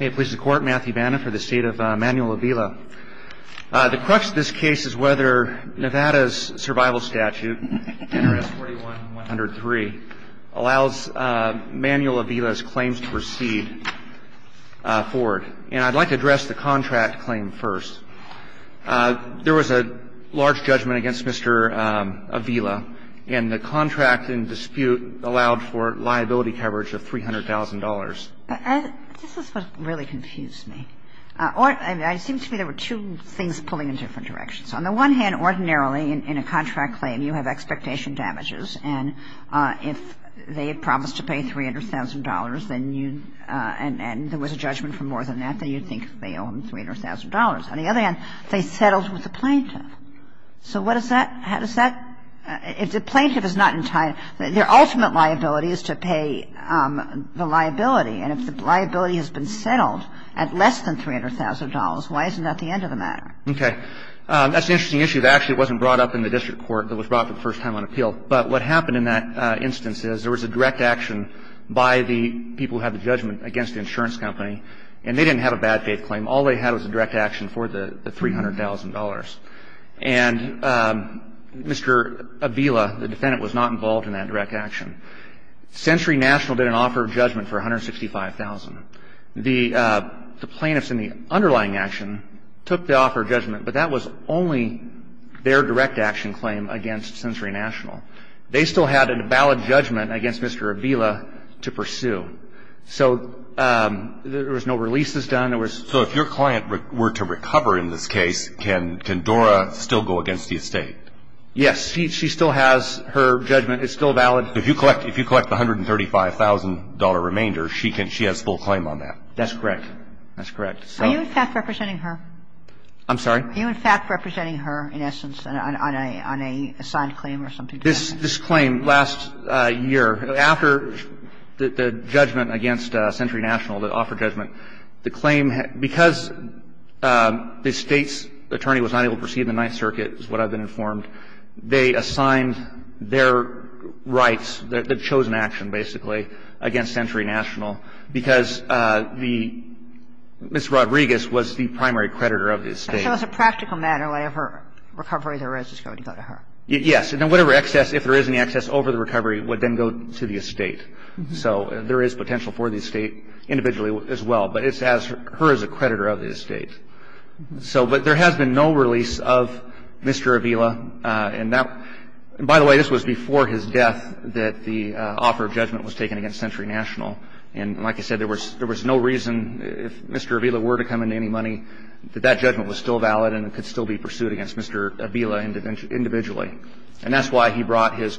Matthew Vanna for the State of Manuel Avila. The crux of this case is whether Nevada's survival statute, NRS 41103, allows Manuel Avila's claims to proceed forward. And I'd like to address the contract claim first. There was a large judgment against Mr. Avila and the contract in dispute allowed for liability coverage of $300,000. This is what really confused me. I mean, it seemed to me there were two things pulling in different directions. On the one hand, ordinarily in a contract claim, you have expectation damages, and if they had promised to pay $300,000 and there was a judgment for more than that, then you'd think they owe him $300,000. On the other hand, they settled with the plaintiff. So what does that – how does that – if the plaintiff is not – their ultimate liability is to pay the liability. And if the liability has been settled at less than $300,000, why isn't that the end of the matter? Okay. That's an interesting issue. Actually, it wasn't brought up in the district court. It was brought up for the first time on appeal. But what happened in that instance is there was a direct action by the people who had the judgment against the insurance company, and they didn't have a bad faith claim. All they had was a direct action for the $300,000. And Mr. Avila, the defendant, was not involved in that direct action. Sensory National did an offer of judgment for $165,000. The plaintiffs in the underlying action took the offer of judgment, but that was only their direct action claim against Sensory National. They still had a valid judgment against Mr. Avila to pursue. So there was no releases done. So if your client were to recover in this case, can Dora still go against the estate? Yes. She still has her judgment. It's still valid. If you collect the $135,000 remainder, she has full claim on that. That's correct. That's correct. Are you, in fact, representing her? I'm sorry? Are you, in fact, representing her, in essence, on a signed claim or something? This claim last year, after the judgment against Sensory National, the offer of judgment, the claim, because the State's attorney was not able to proceed in the Ninth Circuit, is what I've been informed, they assigned their rights, the chosen action, basically, against Sensory National because the Mrs. Rodriguez was the primary creditor of the estate. So as a practical matter, whatever recovery there is is going to go to her. Yes. And then whatever excess, if there is any excess over the recovery, would then go to the estate. So there is potential for the estate individually as well. But it's as her as a creditor of the estate. So but there has been no release of Mr. Avila. And that, by the way, this was before his death that the offer of judgment was taken against Sensory National. And like I said, there was no reason, if Mr. Avila were to come into any money, that that judgment was still valid and could still be pursued against Mr. Avila individually. And that's why he brought his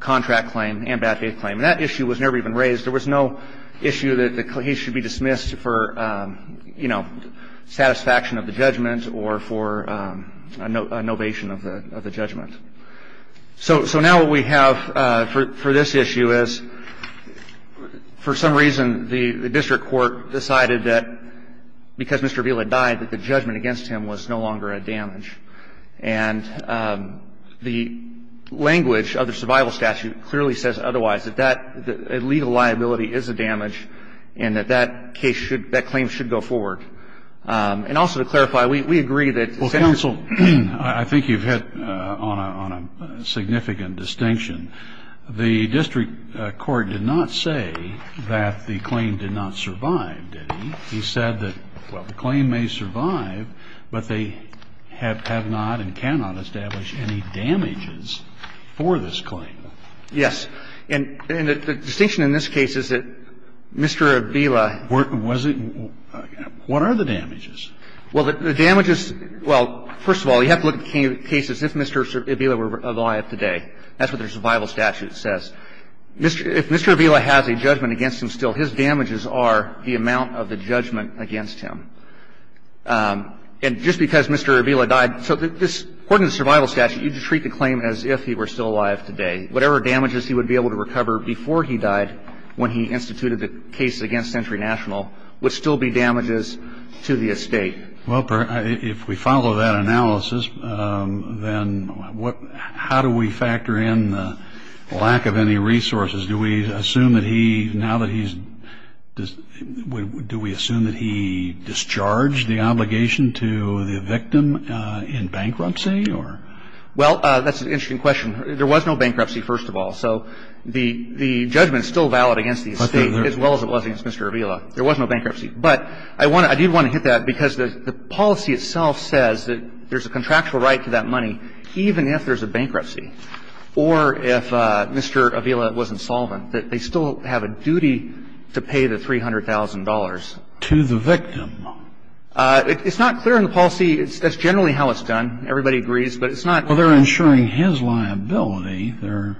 contract claim and bad faith claim. And that issue was never even raised. There was no issue that he should be dismissed for, you know, satisfaction of the judgment or for a novation of the judgment. So now what we have for this issue is, for some reason, the district court decided that because Mr. Avila died that the judgment against him was no longer a damage. And the language of the survival statute clearly says otherwise, that that legal liability is a damage and that that case should, that claim should go forward. And also to clarify, we agree that. Well, counsel, I think you've hit on a significant distinction. The district court did not say that the claim did not survive, did he? He said that, well, the claim may survive, but they have not and cannot establish any damages for this claim. Yes. And the distinction in this case is that Mr. Avila. What are the damages? Well, the damages, well, first of all, you have to look at cases if Mr. Avila were alive today. That's what their survival statute says. If Mr. Avila has a judgment against him still, his damages are the amount of the judgment against him. And just because Mr. Avila died, so this, according to the survival statute, you'd treat the claim as if he were still alive today. Whatever damages he would be able to recover before he died when he instituted the case against Century National would still be damages to the estate. Well, if we follow that analysis, then how do we factor in the lack of any resources? Do we assume that he, now that he's, do we assume that he discharged the obligation to the victim in bankruptcy or? Well, that's an interesting question. There was no bankruptcy, first of all. So the judgment is still valid against the estate as well as it was against Mr. Avila. There was no bankruptcy. But I want to, I do want to hit that because the policy itself says that there's a contractual right to that money even if there's a bankruptcy. Or if Mr. Avila was insolvent, that they still have a duty to pay the $300,000. To the victim. It's not clear in the policy, that's generally how it's done. Everybody agrees, but it's not. Well, they're insuring his liability, they're.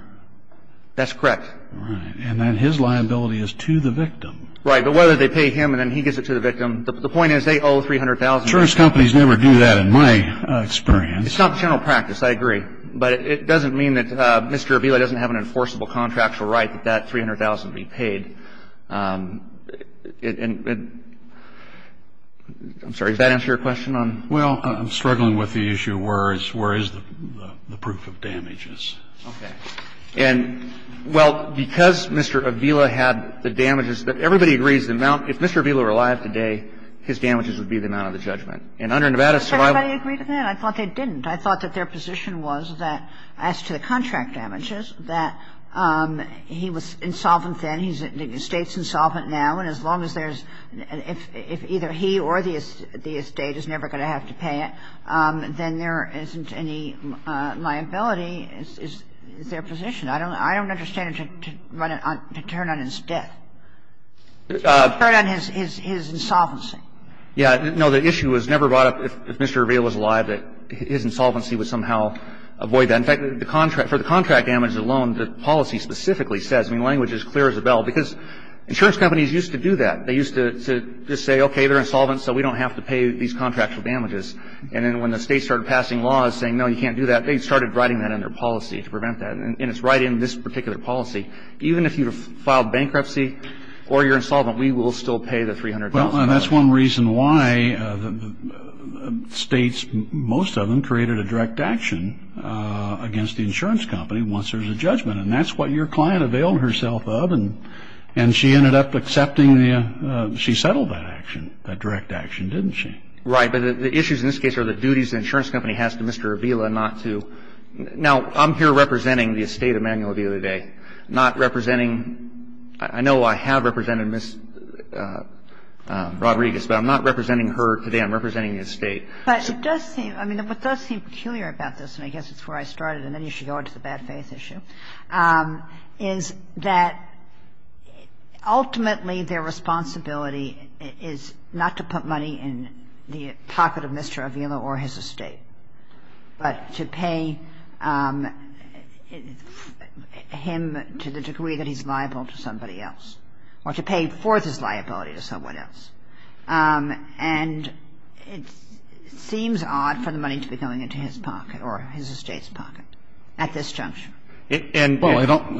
That's correct. Right. And then his liability is to the victim. Right. But whether they pay him and then he gives it to the victim, the point is they owe $300,000. Insurance companies never do that in my experience. It's not the general practice. I agree. But it doesn't mean that Mr. Avila doesn't have an enforceable contractual right that that $300,000 be paid. And I'm sorry, does that answer your question on? Well, I'm struggling with the issue where is the proof of damages. Okay. And, well, because Mr. Avila had the damages, everybody agrees the amount, if Mr. Avila were alive today, his damages would be the amount of the judgment. And under Nevada's survival. Everybody agreed on that? I thought they didn't. I thought that their position was that as to the contract damages, that he was insolvent then, he's the State's insolvent now, and as long as there's an – if either he or the State is never going to have to pay it, then there isn't any liability. I don't understand why Mr. Avila would turn on his death. Why would he turn on his insolvency? Yeah. No, the issue was never brought up if Mr. Avila was alive that his insolvency would somehow avoid that. In fact, for the contract damages alone, the policy specifically says, I mean, language is clear as a bell, because insurance companies used to do that. They used to just say, okay, they're insolvent, so we don't have to pay these contractual damages. And then when the States started passing laws saying, no, you can't do that, they started writing that in their policy to prevent that. And it's right in this particular policy. Even if you filed bankruptcy or you're insolvent, we will still pay the $300,000. Well, and that's one reason why the States, most of them, created a direct action against the insurance company once there's a judgment. And that's what your client availed herself of, and she ended up accepting the – she settled that action, that direct action, didn't she? Right. But the issues in this case are the duties the insurance company has to Mr. Avila not to – now, I'm here representing the estate of Manuel Avila today, not representing – I know I have represented Ms. Rodriguez, but I'm not representing her today. I'm representing the estate. But it does seem – I mean, what does seem peculiar about this, and I guess it's where I started, and then you should go into the bad faith issue, is that ultimately their responsibility is not to put money in the pocket of Mr. Avila or his estate, but to pay him to the degree that he's liable to somebody else, or to pay forth his liability to someone else. And it seems odd for the money to be going into his pocket or his estate's pocket at this juncture. Well, I don't –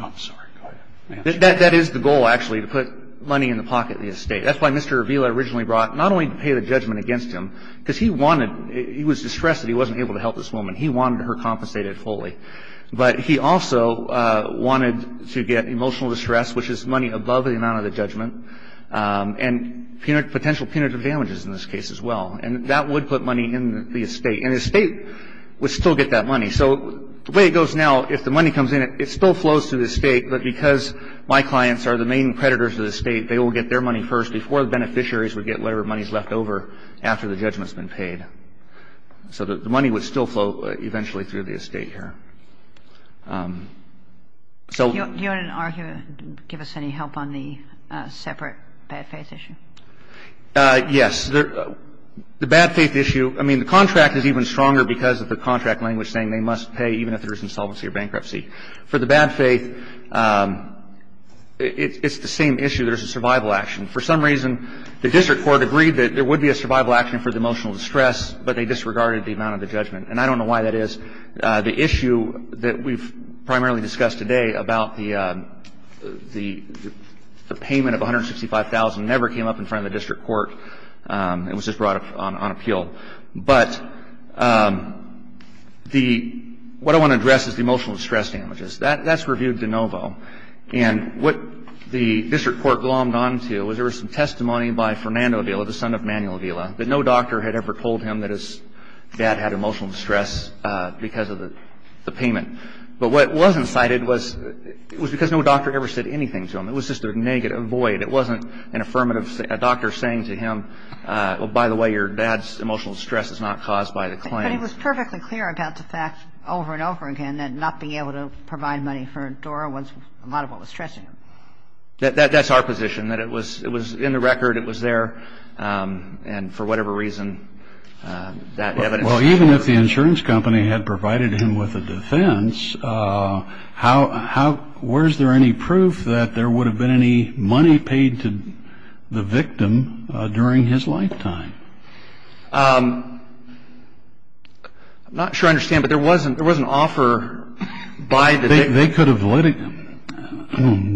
I'm sorry, go ahead. That is the goal, actually, to put money in the pocket of the estate. That's why Mr. Avila originally brought – not only to pay the judgment against him, because he wanted – he was distressed that he wasn't able to help this woman. He wanted her compensated fully. But he also wanted to get emotional distress, which is money above the amount of the judgment, and potential punitive damages in this case as well. And that would put money in the estate, and the estate would still get that money. So the way it goes now, if the money comes in, it still flows through the estate. But because my clients are the main creditors of the estate, they will get their money first before the beneficiaries would get whatever money is left over after the judgment has been paid. So the money would still flow eventually through the estate here. So – Do you want to argue – give us any help on the separate bad faith issue? Yes. The bad faith issue – I mean, the contract is even stronger because of the contract language saying they must pay even if there is insolvency or bankruptcy. For the bad faith, it's the same issue. There's a survival action. For some reason, the district court agreed that there would be a survival action for the emotional distress, but they disregarded the amount of the judgment. And I don't know why that is. The issue that we've primarily discussed today about the payment of $165,000 never came up in front of the district court. It was just brought up on appeal. But the – what I want to address is the emotional distress damages. That's reviewed de novo. And what the district court glommed onto was there was some testimony by Fernando Vila, the son of Manuel Vila, that no doctor had ever told him that his dad had emotional distress because of the payment. But what wasn't cited was it was because no doctor ever said anything to him. It was just a negative void. It wasn't an affirmative – a doctor saying to him, well, by the way, your dad's emotional distress is not caused by the claim. But it was perfectly clear about the fact over and over again that not being able to provide money for Dora was a lot of what was stressing him. That's our position, that it was in the record, it was there, and for whatever reason, that evidence was never – Well, even if the insurance company had provided him with a defense, how – where's there any proof that there would have been any money paid to the victim during his lifetime? I'm not sure I understand, but there was an offer by the victim. They could have litigated –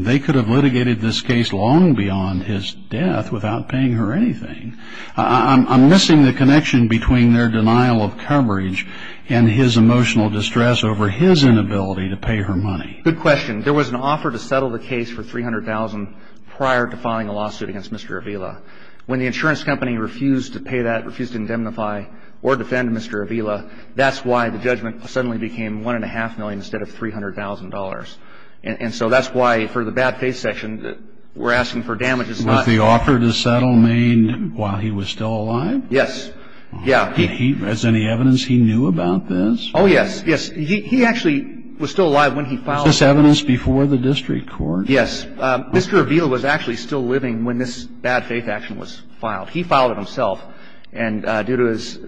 they could have litigated this case long beyond his death without paying her anything. I'm missing the connection between their denial of coverage and his emotional distress over his inability to pay her money. Good question. There was an offer to settle the case for $300,000 prior to filing a lawsuit against Mr. Avila. When the insurance company refused to pay that, refused to indemnify or defend Mr. Avila, that's why the judgment suddenly became $1.5 million instead of $300,000. And so that's why, for the bad faith section, we're asking for damages not – Was the offer to settle made while he was still alive? Yes. Yeah. Is there any evidence he knew about this? Oh, yes. Yes. He actually was still alive when he filed it. Is this evidence before the district court? Yes. Mr. Avila was actually still living when this bad faith action was filed. He filed it himself, and due to his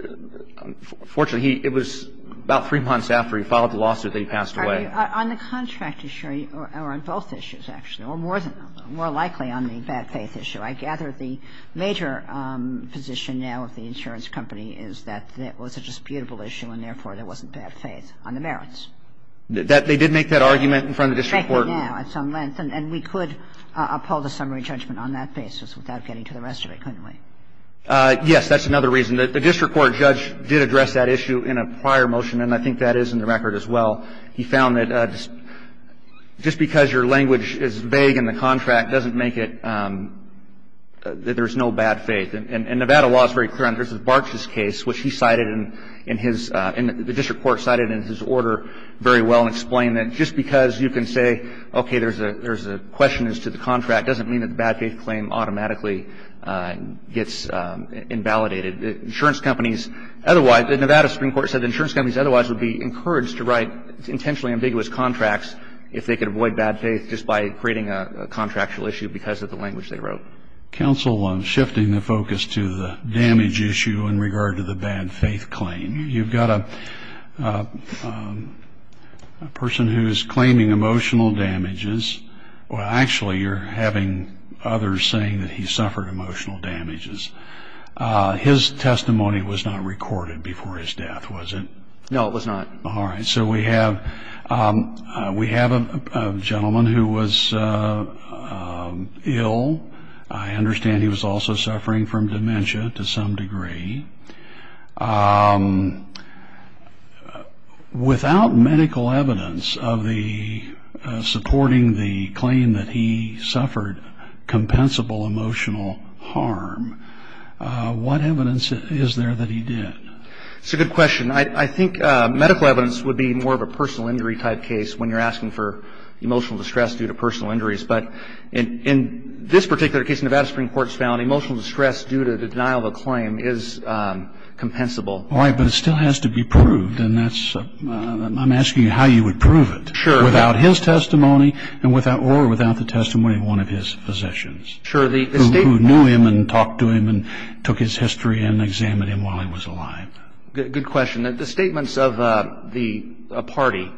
– fortunately, it was about three months after he filed the lawsuit that he passed away. Are you – on the contract issue or on both issues, actually, or more than – more likely on the bad faith issue? I gather the major position now of the insurance company is that that was a disputable issue and, therefore, there wasn't bad faith on the merits. That – they did make that argument in front of the district court. They do now at some length. And we could uphold a summary judgment on that basis without getting to the rest of it, couldn't we? Yes. That's another reason. The district court judge did address that issue in a prior motion, and I think that is in the record as well. He found that just because your language is vague in the contract doesn't make it – that there's no bad faith. And Nevada law is very clear on this. In Barks' case, which he cited in his – the district court cited in his order very well and explained that just because you can say, okay, there's a question as to the contract doesn't mean that the bad faith claim automatically gets invalidated. The insurance companies otherwise – the Nevada Supreme Court said the insurance companies otherwise would be encouraged to write intentionally ambiguous contracts if they could avoid bad faith just by creating a contractual issue because of the language they wrote. Counsel, I'm shifting the focus to the damage issue in regard to the bad faith claim. You've got a person who is claiming emotional damages – well, actually, you're having others saying that he suffered emotional damages. His testimony was not recorded before his death, was it? No, it was not. All right. So we have a gentleman who was ill. I understand he was also suffering from dementia to some degree. Without medical evidence of the – supporting the claim that he suffered compensable emotional harm, what evidence is there that he did? It's a good question. I think medical evidence would be more of a personal injury type case when you're asking for emotional distress due to personal injuries. But in this particular case, the Nevada Supreme Court has found emotional distress due to the denial of a claim is compensable. All right, but it still has to be proved, and that's – I'm asking you how you would prove it. Sure. Without his testimony or without the testimony of one of his physicians who knew him and talked to him and took his history and examined him while he was alive. Good question. The statements of the party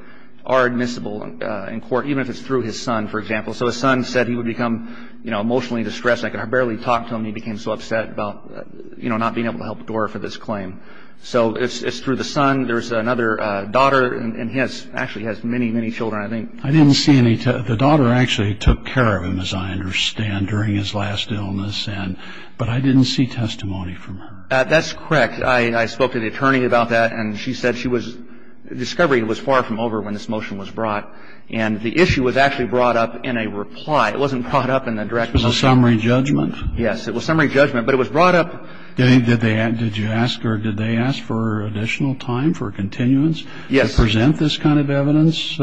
are admissible in court, even if it's through his son, for example. So his son said he would become, you know, emotionally distressed, and I could barely talk to him. He became so upset about, you know, not being able to help Dora for this claim. So it's through the son. There's another daughter, and he has – actually has many, many children, I think. I didn't see any – the daughter actually took care of him, as I understand, during his last illness, and – but I didn't see testimony from her. That's correct. I spoke to the attorney about that, and she said she was – discovery was far from over when this motion was brought. And the issue was actually brought up in a reply. It wasn't brought up in the direct – It was a summary judgment. Yes. It was a summary judgment, but it was brought up – Did they – did you ask or did they ask for additional time for continuance? Yes. To present this kind of evidence?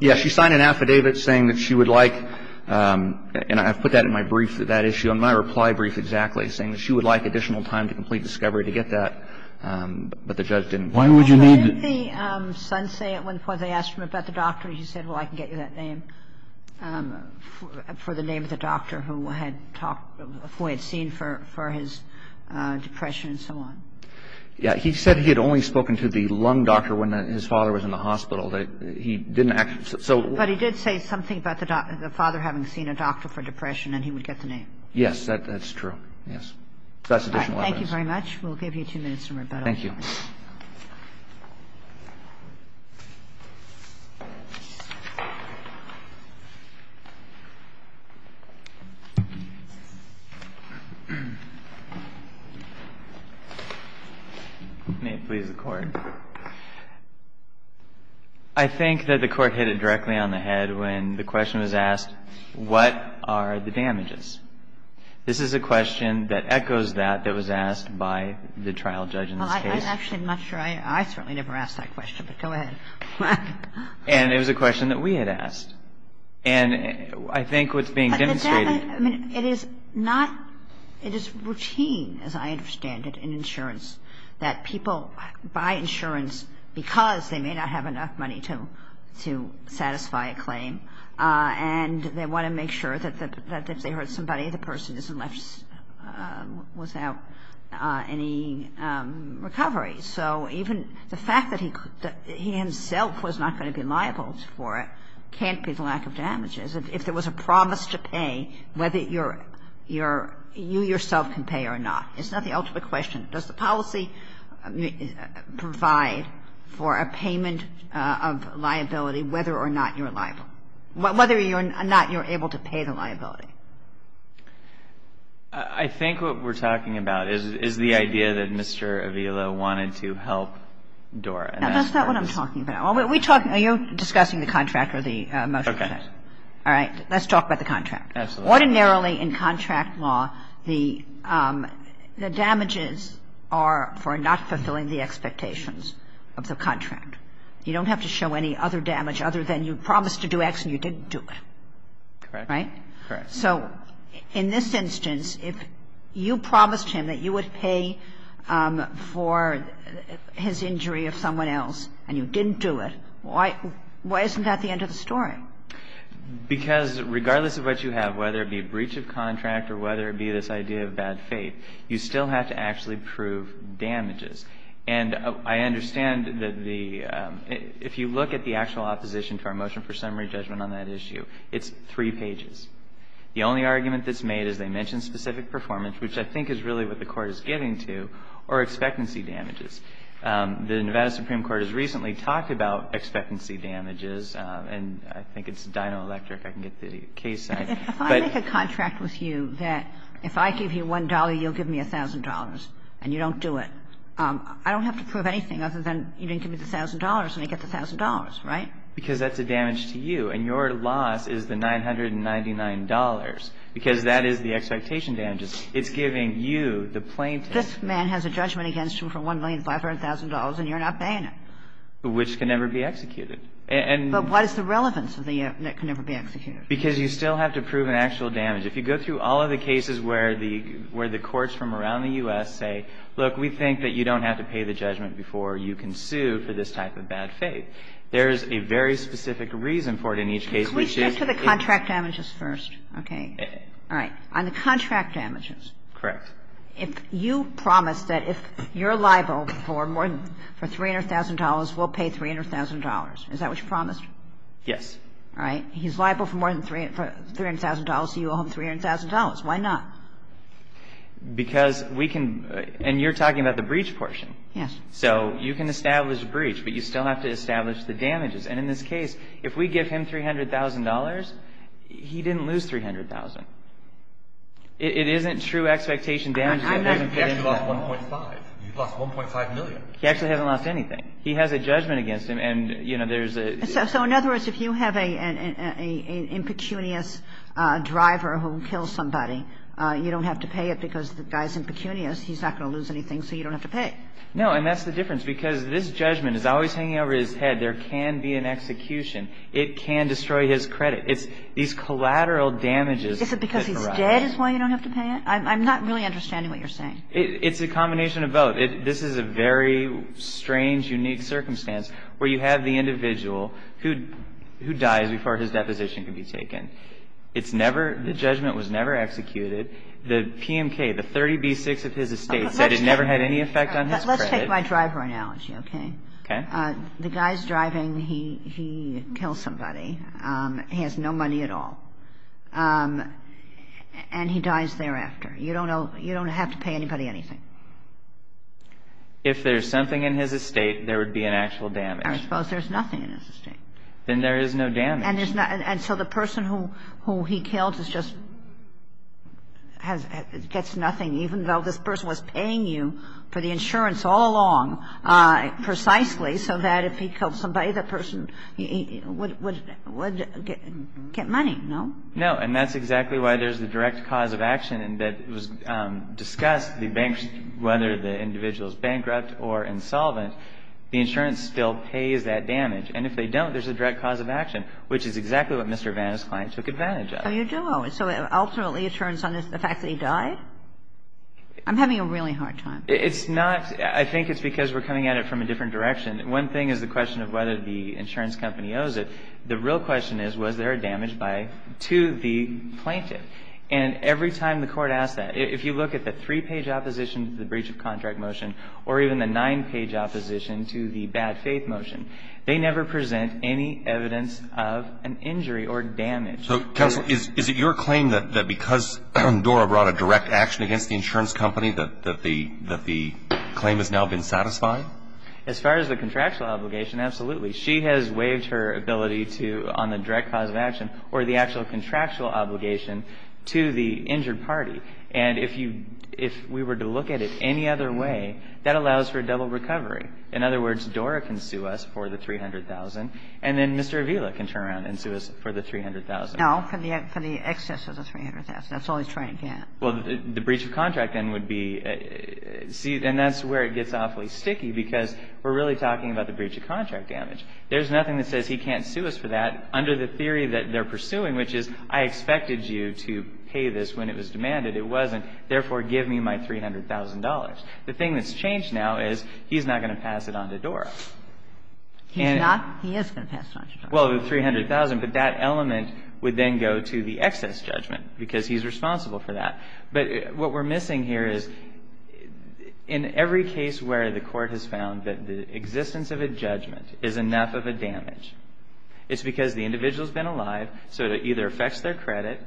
Yes. She signed an affidavit saying that she would like – and I've put that in my brief, that issue, in my reply brief exactly, saying that she would like additional time to complete the discovery to get that. But the judge didn't – Why would you need – What did the son say at one point? They asked him about the doctor. He said, well, I can get you that name, for the name of the doctor who had seen for his depression and so on. Yes. He said he had only spoken to the lung doctor when his father was in the hospital. He didn't actually – so – But he did say something about the father having seen a doctor for depression, and he would get the name. Thank you very much. Thank you. Thank you. Thank you. Thank you. Thank you. Thank you. Thank you. Thank you. Thank you. Thank you. Thank you very much. We'll give you two minutes for rebuttal. Thank you. May it please the Court. I think that the Court hit it directly on the head when the question was asked, what are the damages? This is a question that echoes that that was asked by the trial judge in this case. Well, I'm actually not sure. I certainly never asked that question, but go ahead. And it was a question that we had asked. And I think what's being demonstrated – But the fact – I mean, it is not – it is routine, as I understand it, in insurance that people buy insurance because they may not have enough money to satisfy a claim, and they want to make sure that if they hurt somebody, the person isn't left without any recovery. So even the fact that he himself was not going to be liable for it can't be the lack of damages. If there was a promise to pay, whether you yourself can pay or not, it's not the ultimate question. Does the policy provide for a payment of liability whether or not you're liable, whether or not you're able to pay the liability? I think what we're talking about is the idea that Mr. Avila wanted to help Dora. That's not what I'm talking about. Are you discussing the contract or the motion? Okay. All right. Let's talk about the contract. Absolutely. Ordinarily in contract law, the damages are for not fulfilling the expectations of the contract. You don't have to show any other damage other than you promised to do X and you didn't do it. Correct. Right? Correct. So in this instance, if you promised him that you would pay for his injury of someone else and you didn't do it, why isn't that the end of the story? Because regardless of what you have, whether it be breach of contract or whether it be this idea of bad faith, you still have to actually prove damages. And I understand that the — if you look at the actual opposition to our motion for summary judgment on that issue, it's three pages. The only argument that's made is they mention specific performance, which I think is really what the Court is getting to, or expectancy damages. The Nevada Supreme Court has recently talked about expectancy damages, and I think it's Dino Electric. I can get the case signed. If I make a contract with you that if I give you $1, you'll give me $1,000 and you don't do it, I don't have to prove anything other than you didn't give me the $1,000 and I get the $1,000, right? Because that's a damage to you, and your loss is the $999 because that is the expectation damages. It's giving you the plaintiff. This man has a judgment against him for $1,500,000 and you're not paying him. Which can never be executed. But what is the relevance of the that can never be executed? Because you still have to prove an actual damage. If you go through all of the cases where the courts from around the U.S. say, look, we think that you don't have to pay the judgment before you can sue for this type of bad faith, there is a very specific reason for it in each case. We should. Can we shift to the contract damages first? Okay. All right. On the contract damages. Correct. If you promise that if you're liable for more than, for $300,000, we'll pay $300,000. Is that what you promised? Yes. All right. He's liable for more than $300,000, so you owe him $300,000. Why not? Because we can – and you're talking about the breach portion. Yes. So you can establish a breach, but you still have to establish the damages. And in this case, if we give him $300,000, he didn't lose $300,000. It isn't true expectation damages. He actually lost 1.5. He lost 1.5 million. He actually hasn't lost anything. He has a judgment against him. And, you know, there's a – So in other words, if you have an impecunious driver who kills somebody, you don't have to pay it because the guy's impecunious. He's not going to lose anything, so you don't have to pay. No. And that's the difference. Because this judgment is always hanging over his head. There can be an execution. It can destroy his credit. It's these collateral damages. Is it because he's dead is why you don't have to pay it? I'm not really understanding what you're saying. It's a combination of both. You know, this is a very strange, unique circumstance where you have the individual who dies before his deposition can be taken. It's never – the judgment was never executed. The PMK, the 30B6 of his estate said it never had any effect on his credit. Let's take my driver analogy, okay? Okay. The guy's driving. He kills somebody. He has no money at all. And he dies thereafter. You don't know – you don't have to pay anybody anything. If there's something in his estate, there would be an actual damage. I suppose there's nothing in his estate. Then there is no damage. And there's not – and so the person who he killed is just – gets nothing, even though this person was paying you for the insurance all along precisely so that if he killed somebody, the person would get money, no? No. And that's exactly why there's the direct cause of action that was discussed, whether the individual is bankrupt or insolvent. The insurance still pays that damage. And if they don't, there's a direct cause of action, which is exactly what Mr. Vanna's client took advantage of. Oh, you do? So ultimately it turns on the fact that he died? I'm having a really hard time. It's not – I think it's because we're coming at it from a different direction. One thing is the question of whether the insurance company owes it. The real question is was there a damage by – to the plaintiff. And every time the court asks that, if you look at the three-page opposition to the breach of contract motion or even the nine-page opposition to the bad faith motion, they never present any evidence of an injury or damage. So, Counsel, is it your claim that because Dora brought a direct action against the insurance company that the claim has now been satisfied? As far as the contractual obligation, absolutely. She has waived her ability to – on the direct cause of action or the actual contractual obligation to the injured party. And if you – if we were to look at it any other way, that allows for a double recovery. In other words, Dora can sue us for the $300,000, and then Mr. Avila can turn around and sue us for the $300,000. No, for the excess of the $300,000. That's all he's trying to get. Well, the breach of contract then would be – and that's where it gets awfully sticky, because we're really talking about the breach of contract damage. There's nothing that says he can't sue us for that under the theory that they're pursuing, which is I expected you to pay this when it was demanded. It wasn't. Therefore, give me my $300,000. The thing that's changed now is he's not going to pass it on to Dora. He's not? He is going to pass it on to Dora. Well, the $300,000, but that element would then go to the excess judgment, because he's responsible for that. But what we're missing here is in every case where the court has found that the existence of a judgment is enough of a damage, it's because the individual has been alive, so it either affects their credit,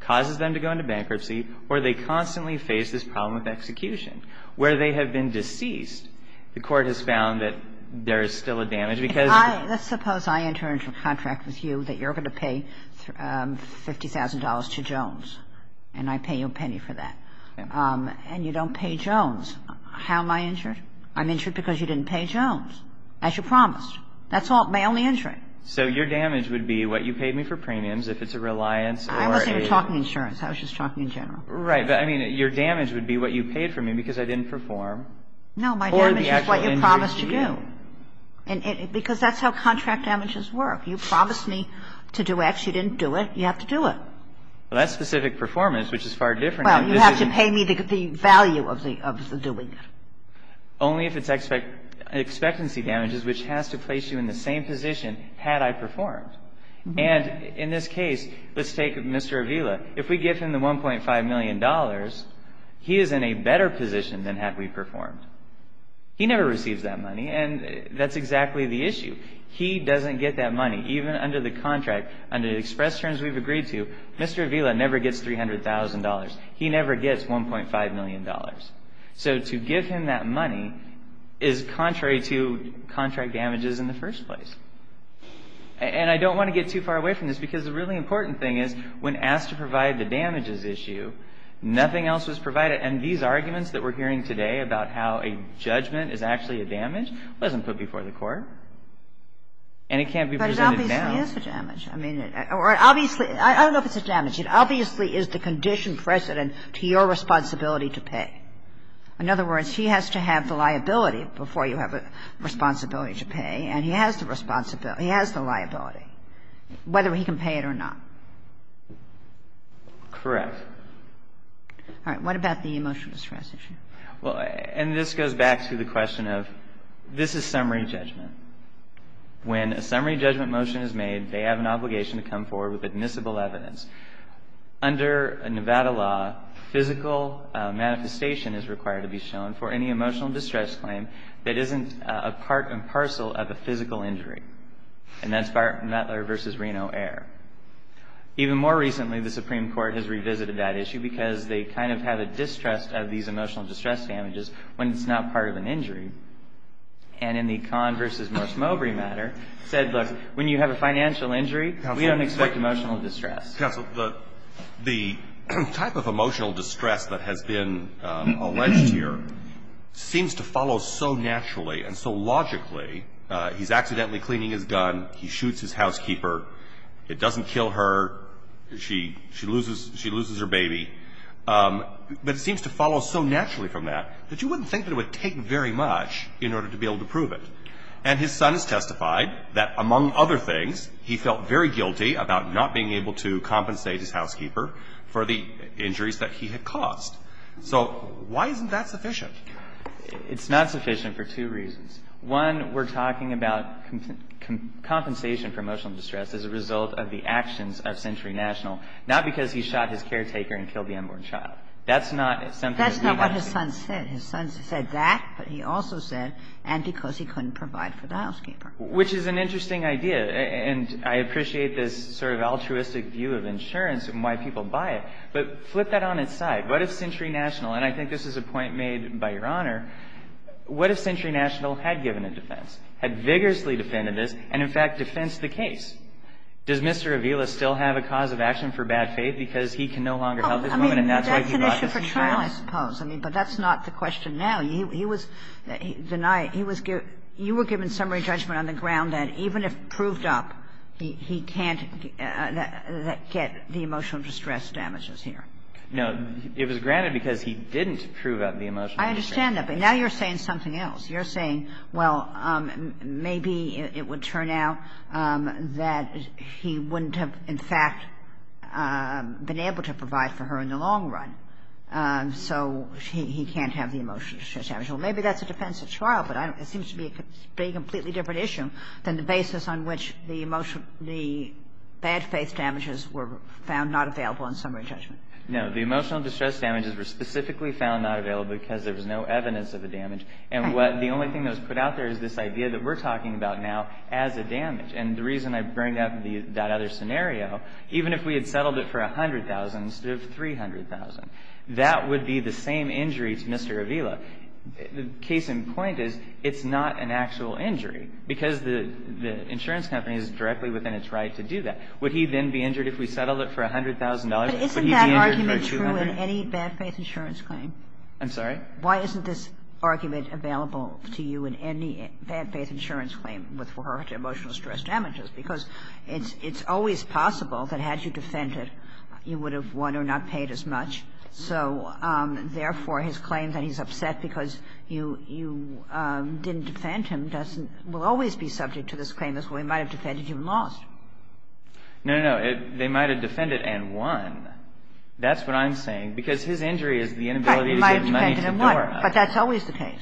causes them to go into bankruptcy, or they constantly face this problem of execution. Where they have been deceased, the court has found that there is still a damage because – Let's suppose I enter into a contract with you that you're going to pay $50,000 to Jones, and I pay you a penny for that. And you don't pay Jones. How am I injured? I'm injured because you didn't pay Jones, as you promised. That's all – my only injury. So your damage would be what you paid me for premiums, if it's a reliance or a – I wasn't even talking insurance. I was just talking in general. Right. But, I mean, your damage would be what you paid for me because I didn't perform or the actual injury to you. No, my damage is what you promised to do. Because that's how contract damages work. You promised me to do X. You didn't do it. You have to do it. Well, that's specific performance, which is far different. Well, you have to pay me the value of doing it. Only if it's expectancy damages, which has to place you in the same position had I performed. And in this case, let's take Mr. Avila. If we give him the $1.5 million, he is in a better position than had we performed. He never receives that money, and that's exactly the issue. He doesn't get that money. Even under the contract, under the express terms we've agreed to, Mr. Avila never gets $300,000. He never gets $1.5 million. So to give him that money is contrary to contract damages in the first place. And I don't want to get too far away from this because the really important thing is when asked to provide the damages issue, nothing else was provided. And these arguments that we're hearing today about how a judgment is actually a damage wasn't put before the court. And it can't be presented now. But it obviously is a damage. I mean, or obviously – I don't know if it's a damage. It obviously is the condition precedent to your responsibility to pay. In other words, he has to have the liability before you have a responsibility to pay, and he has the liability, whether he can pay it or not. Correct. All right. What about the emotional stress issue? Well, and this goes back to the question of this is summary judgment. When a summary judgment motion is made, they have an obligation to come forward with admissible evidence. Under Nevada law, physical manifestation is required to be shown for any emotional distress claim that isn't a part and parcel of a physical injury. And that's Butler v. Reno Air. Even more recently, the Supreme Court has revisited that issue because they kind of have a distrust of these emotional distress damages when it's not part of an injury. And in the Kahn v. Morse-Mowbray matter, said, look, when you have a financial injury, we don't expect emotional distress. Counsel, the type of emotional distress that has been alleged here seems to follow so naturally and so logically. He's accidentally cleaning his gun. He shoots his housekeeper. It doesn't kill her. She loses her baby. But it seems to follow so naturally from that that you wouldn't think that it would take very much in order to be able to prove it. And his son has testified that, among other things, he felt very guilty about not being able to compensate his housekeeper for the injuries that he had caused. So why isn't that sufficient? It's not sufficient for two reasons. One, we're talking about compensation for emotional distress as a result of the actions of Century National. Not because he shot his caretaker and killed the unborn child. That's not something that we want to see. That's not what his son said. His son said that, but he also said, and because he couldn't provide for the housekeeper. Which is an interesting idea. And I appreciate this sort of altruistic view of insurance and why people buy it. But flip that on its side. What if Century National – and I think this is a point made by Your Honor – what if Century National had given a defense, had vigorously defended this, and in fact defensed the case? Does Mr. Avila still have a cause of action for bad faith because he can no longer help his woman and that's why he brought this case? I mean, that's an issue for trial, I suppose. But that's not the question now. He was denied – he was – you were given summary judgment on the ground that even if proved up, he can't get the emotional distress damages here. No. It was granted because he didn't prove up the emotional distress damages. I understand that. But now you're saying something else. You're saying, well, maybe it would turn out that he wouldn't have, in fact, been able to provide for her in the long run. So he can't have the emotional distress damages. Well, maybe that's a defensive trial, but it seems to be a completely different issue than the basis on which the emotional – the bad faith damages were found not available in summary judgment. No. The emotional distress damages were specifically found not available because there was no evidence of the damage. And what – the only thing that was put out there is this idea that we're talking about now as a damage. And the reason I bring up that other scenario, even if we had settled it for $100,000 instead of $300,000, that would be the same injury to Mr. Avila. The case in point is it's not an actual injury because the insurance company is directly within its right to do that. Would he then be injured if we settled it for $100,000? Would he be injured for $200,000? But isn't that argument true in any bad faith insurance claim? I'm sorry? Why isn't this argument available to you in any bad faith insurance claim with regard to emotional distress damages? Because it's always possible that had you defended, you would have won or not paid as much. So, therefore, his claim that he's upset because you didn't defend him doesn't – will always be subject to this claim as well. He might have defended you and lost. No, no, no. They might have defended and won. Because his injury is the inability to get money to the bank. But that's always the case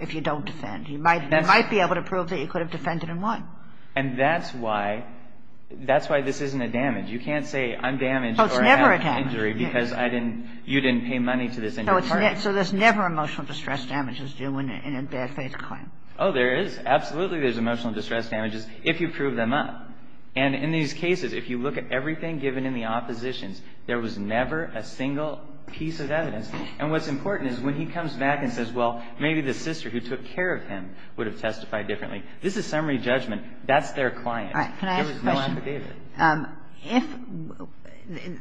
if you don't defend. You might be able to prove that you could have defended and won. And that's why – that's why this isn't a damage. You can't say I'm damaged or have an injury because I didn't – you didn't pay money to this injured person. So there's never emotional distress damages due in a bad faith claim. Oh, there is. Absolutely there's emotional distress damages if you prove them up. And in these cases, if you look at everything given in the oppositions, there was never a single piece of evidence. And what's important is when he comes back and says, well, maybe the sister who took care of him would have testified differently. This is summary judgment. That's their client. There was no affidavit. All right. Can I ask a question? If –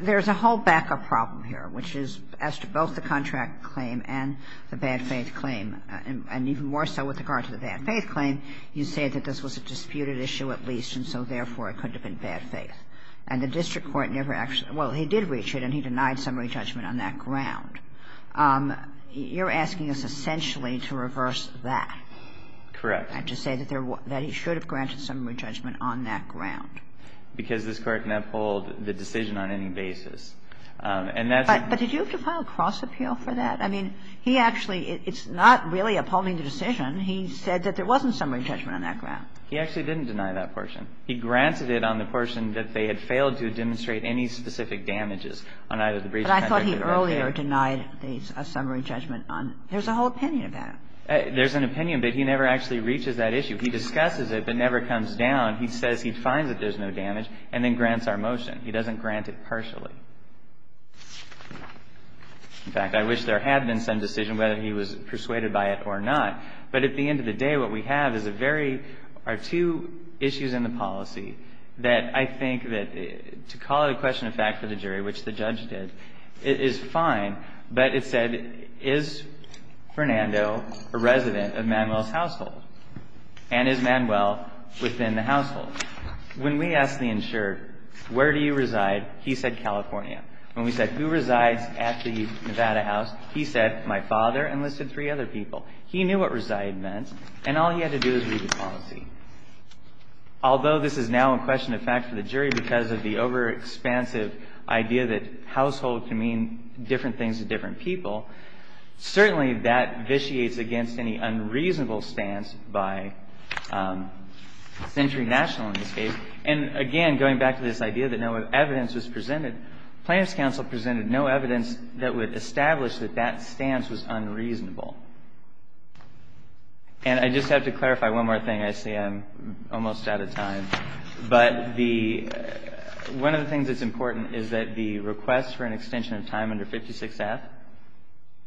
there's a whole backup problem here, which is as to both the contract claim and the bad faith claim. And even more so with regard to the bad faith claim, you say that this was a disputed issue at least, and so, therefore, it could have been bad faith. And the district court never actually – well, he did reach it and he denied summary judgment on that ground. You're asking us essentially to reverse that. Correct. And to say that there – that he should have granted summary judgment on that ground. Because this Court can uphold the decision on any basis. And that's a – But did you have to file a cross appeal for that? I mean, he actually – it's not really upholding the decision. He said that there wasn't summary judgment on that ground. He actually didn't deny that portion. He granted it on the portion that they had failed to demonstrate any specific damages on either the breach of contract or the repair. But I thought he earlier denied a summary judgment on – there's a whole opinion about it. There's an opinion, but he never actually reaches that issue. He discusses it but never comes down. He says he finds that there's no damage and then grants our motion. He doesn't grant it partially. In fact, I wish there had been some decision whether he was persuaded by it or not. But at the end of the day, what we have is a very – are two issues in the policy that I think that – to call it a question of fact for the jury, which the judge did, is fine. But it said, is Fernando a resident of Manuel's household? And is Manuel within the household? When we asked the insured, where do you reside, he said California. When we said who resides at the Nevada house, he said my father and listed three other people. He knew what reside meant, and all he had to do was read the policy. Although this is now a question of fact for the jury because of the overexpansive idea that household can mean different things to different people, certainly that vitiates against any unreasonable stance by Century National in this case. And again, going back to this idea that no evidence was presented, Plaintiff's Counsel presented no evidence that would establish that that stance was unreasonable. And I just have to clarify one more thing. I see I'm almost out of time. But the – one of the things that's important is that the request for an extension of time under 56F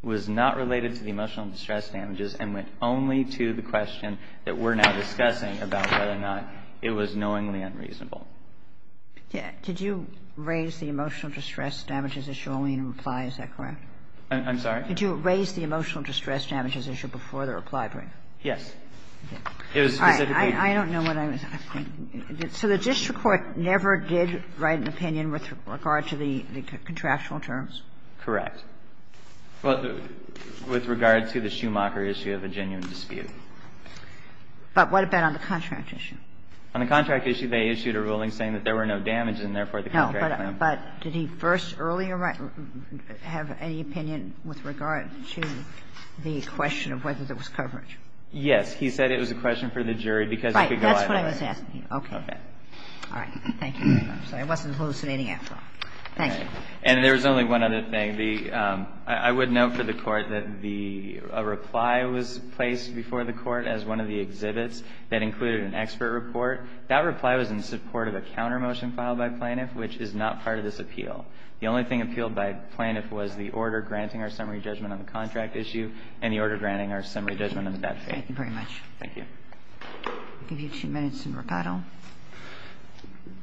was not related to the emotional distress damages and went only to the question that we're now discussing about whether or not it was knowingly unreasonable. Did you raise the emotional distress damages issue only in reply? Is that correct? I'm sorry? Did you raise the emotional distress damages issue before the reply brief? Yes. It was specifically. All right. I don't know what I was – so the district court never did write an opinion with regard to the contractual terms? Correct. Well, with regard to the Schumacher issue of a genuine dispute. But what about on the contract issue? On the contract issue, they issued a ruling saying that there were no damages and, therefore, the contract now. No. But did he first earlier have any opinion with regard to the question of whether there was coverage? Yes. He said it was a question for the jury because it could go either way. Right. That's what I was asking you. Okay. Okay. All right. Thank you. I'm sorry. I wasn't hallucinating after all. Thank you. And there was only one other thing. The – I would note for the Court that the – a reply was placed before the Court as one of the exhibits that included an expert report. That reply was in support of a counter motion filed by Plaintiff, which is not part of this appeal. The only thing appealed by Plaintiff was the order granting our summary judgment on the contract issue and the order granting our summary judgment on the statute. Thank you very much. Thank you. I'll give you two minutes in rebuttal.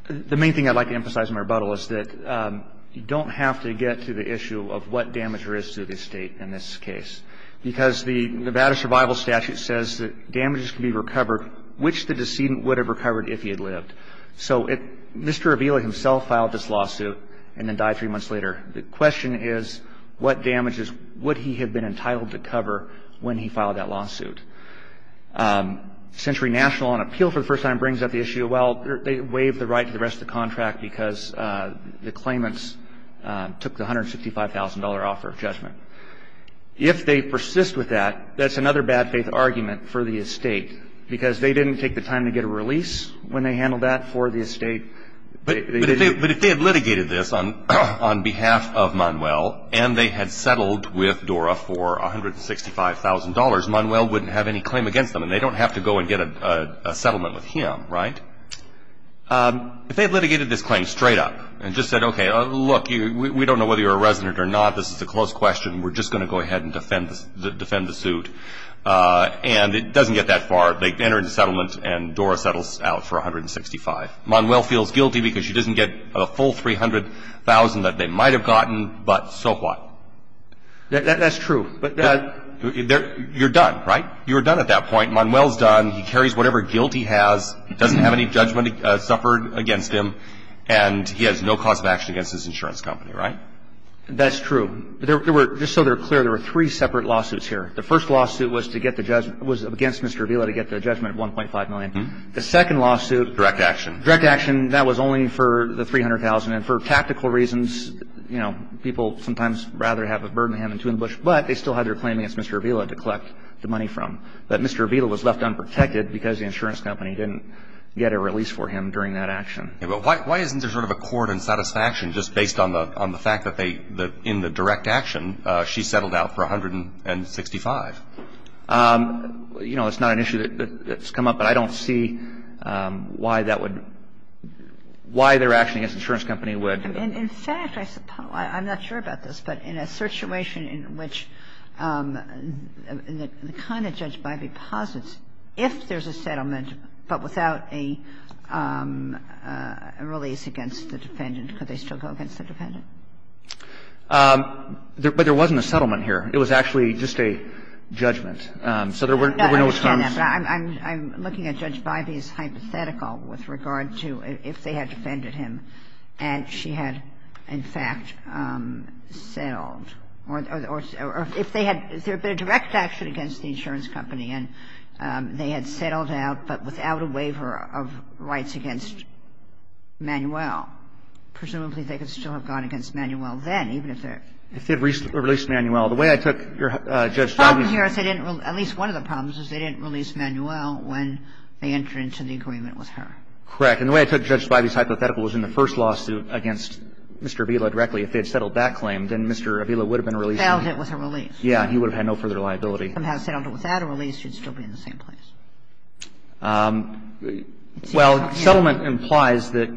The main thing I'd like to emphasize in my rebuttal is that you don't have to get to the issue of what damage there is to the estate in this case, because the Nevada Survival Statute says that damages can be recovered which the decedent would have recovered if he had lived. So it – Mr. Avila himself filed this lawsuit and then died three months later. The question is what damages would he have been entitled to cover when he filed that lawsuit. Century National, on appeal for the first time, brings up the issue, well, they waived the right to the rest of the contract because the claimants took the $165,000 offer of judgment. If they persist with that, that's another bad faith argument for the estate, because they didn't take the time to get a release when they handled that for the estate. But if they had litigated this on behalf of Manuel and they had settled with DORA for $165,000, Manuel wouldn't have any claim against them and they don't have to go and get a settlement with him, right? If they had litigated this claim straight up and just said, okay, look, we don't know whether you're a resident or not. This is a close question. We're just going to go ahead and defend the suit. And it doesn't get that far. They enter into settlement and DORA settles out for $165,000. Manuel feels guilty because he doesn't get a full $300,000 that they might have gotten, but so what? That's true. You're done, right? You're done at that point. Manuel's done. He carries whatever guilt he has. He doesn't have any judgment suffered against him. And he has no cause of action against his insurance company, right? That's true. Just so they're clear, there were three separate lawsuits here. The first lawsuit was against Mr. Avila to get the judgment of $1.5 million. The second lawsuit. Direct action. Direct action. That was only for the $300,000. And for tactical reasons, you know, people sometimes rather have a bird in the hand than two in the bush, but they still had their claim against Mr. Avila to collect the money from. But Mr. Avila was left unprotected because the insurance company didn't get a release for him during that action. But why isn't there sort of a court and satisfaction just based on the fact that they, in the direct action, she settled out for $165,000? You know, it's not an issue that's come up, but I don't see why that would, why their action against the insurance company would. In fact, I'm not sure about this, but in a situation in which the kind of judge Bivey posits, if there's a settlement but without a release against the defendant, could they still go against the defendant? But there wasn't a settlement here. It was actually just a judgment. So there were no terms. I understand that, but I'm looking at Judge Bivey's hypothetical with regard to if they had defended him and she had, in fact, settled, or if they had, if there had been a direct action against the insurance company and they had settled out, but without a waiver of rights against Manuel, presumably they could still have gone against Manuel then, even if they're. If they had released Manuel. The way I took Judge Bivey's. The problem here is they didn't, at least one of the problems is they didn't release So if they had settled that claim against the insurance company, they would have been able to release the defendant. But if they had settled it with her. Correct. And the way I took Judge Bivey's hypothetical was in the first lawsuit against Mr. Avila directly. If they had settled that claim, then Mr. Avila would have been released. Failed it with a release. Yeah. He would have had no further liability. If he had settled it without a release, he would still be in the same place. Well, settlement implies that.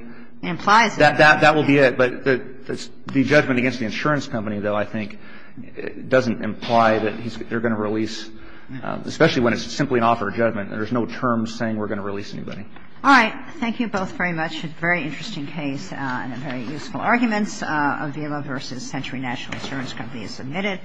It implies that. That will be it. But the judgment against the insurance company, though, I think doesn't imply that they're going to release, especially when it's simply an offer of judgment. There's no term saying we're going to release anybody. All right. Thank you both very much. A very interesting case and very useful arguments. Avila v. Century National Insurance Company is submitted.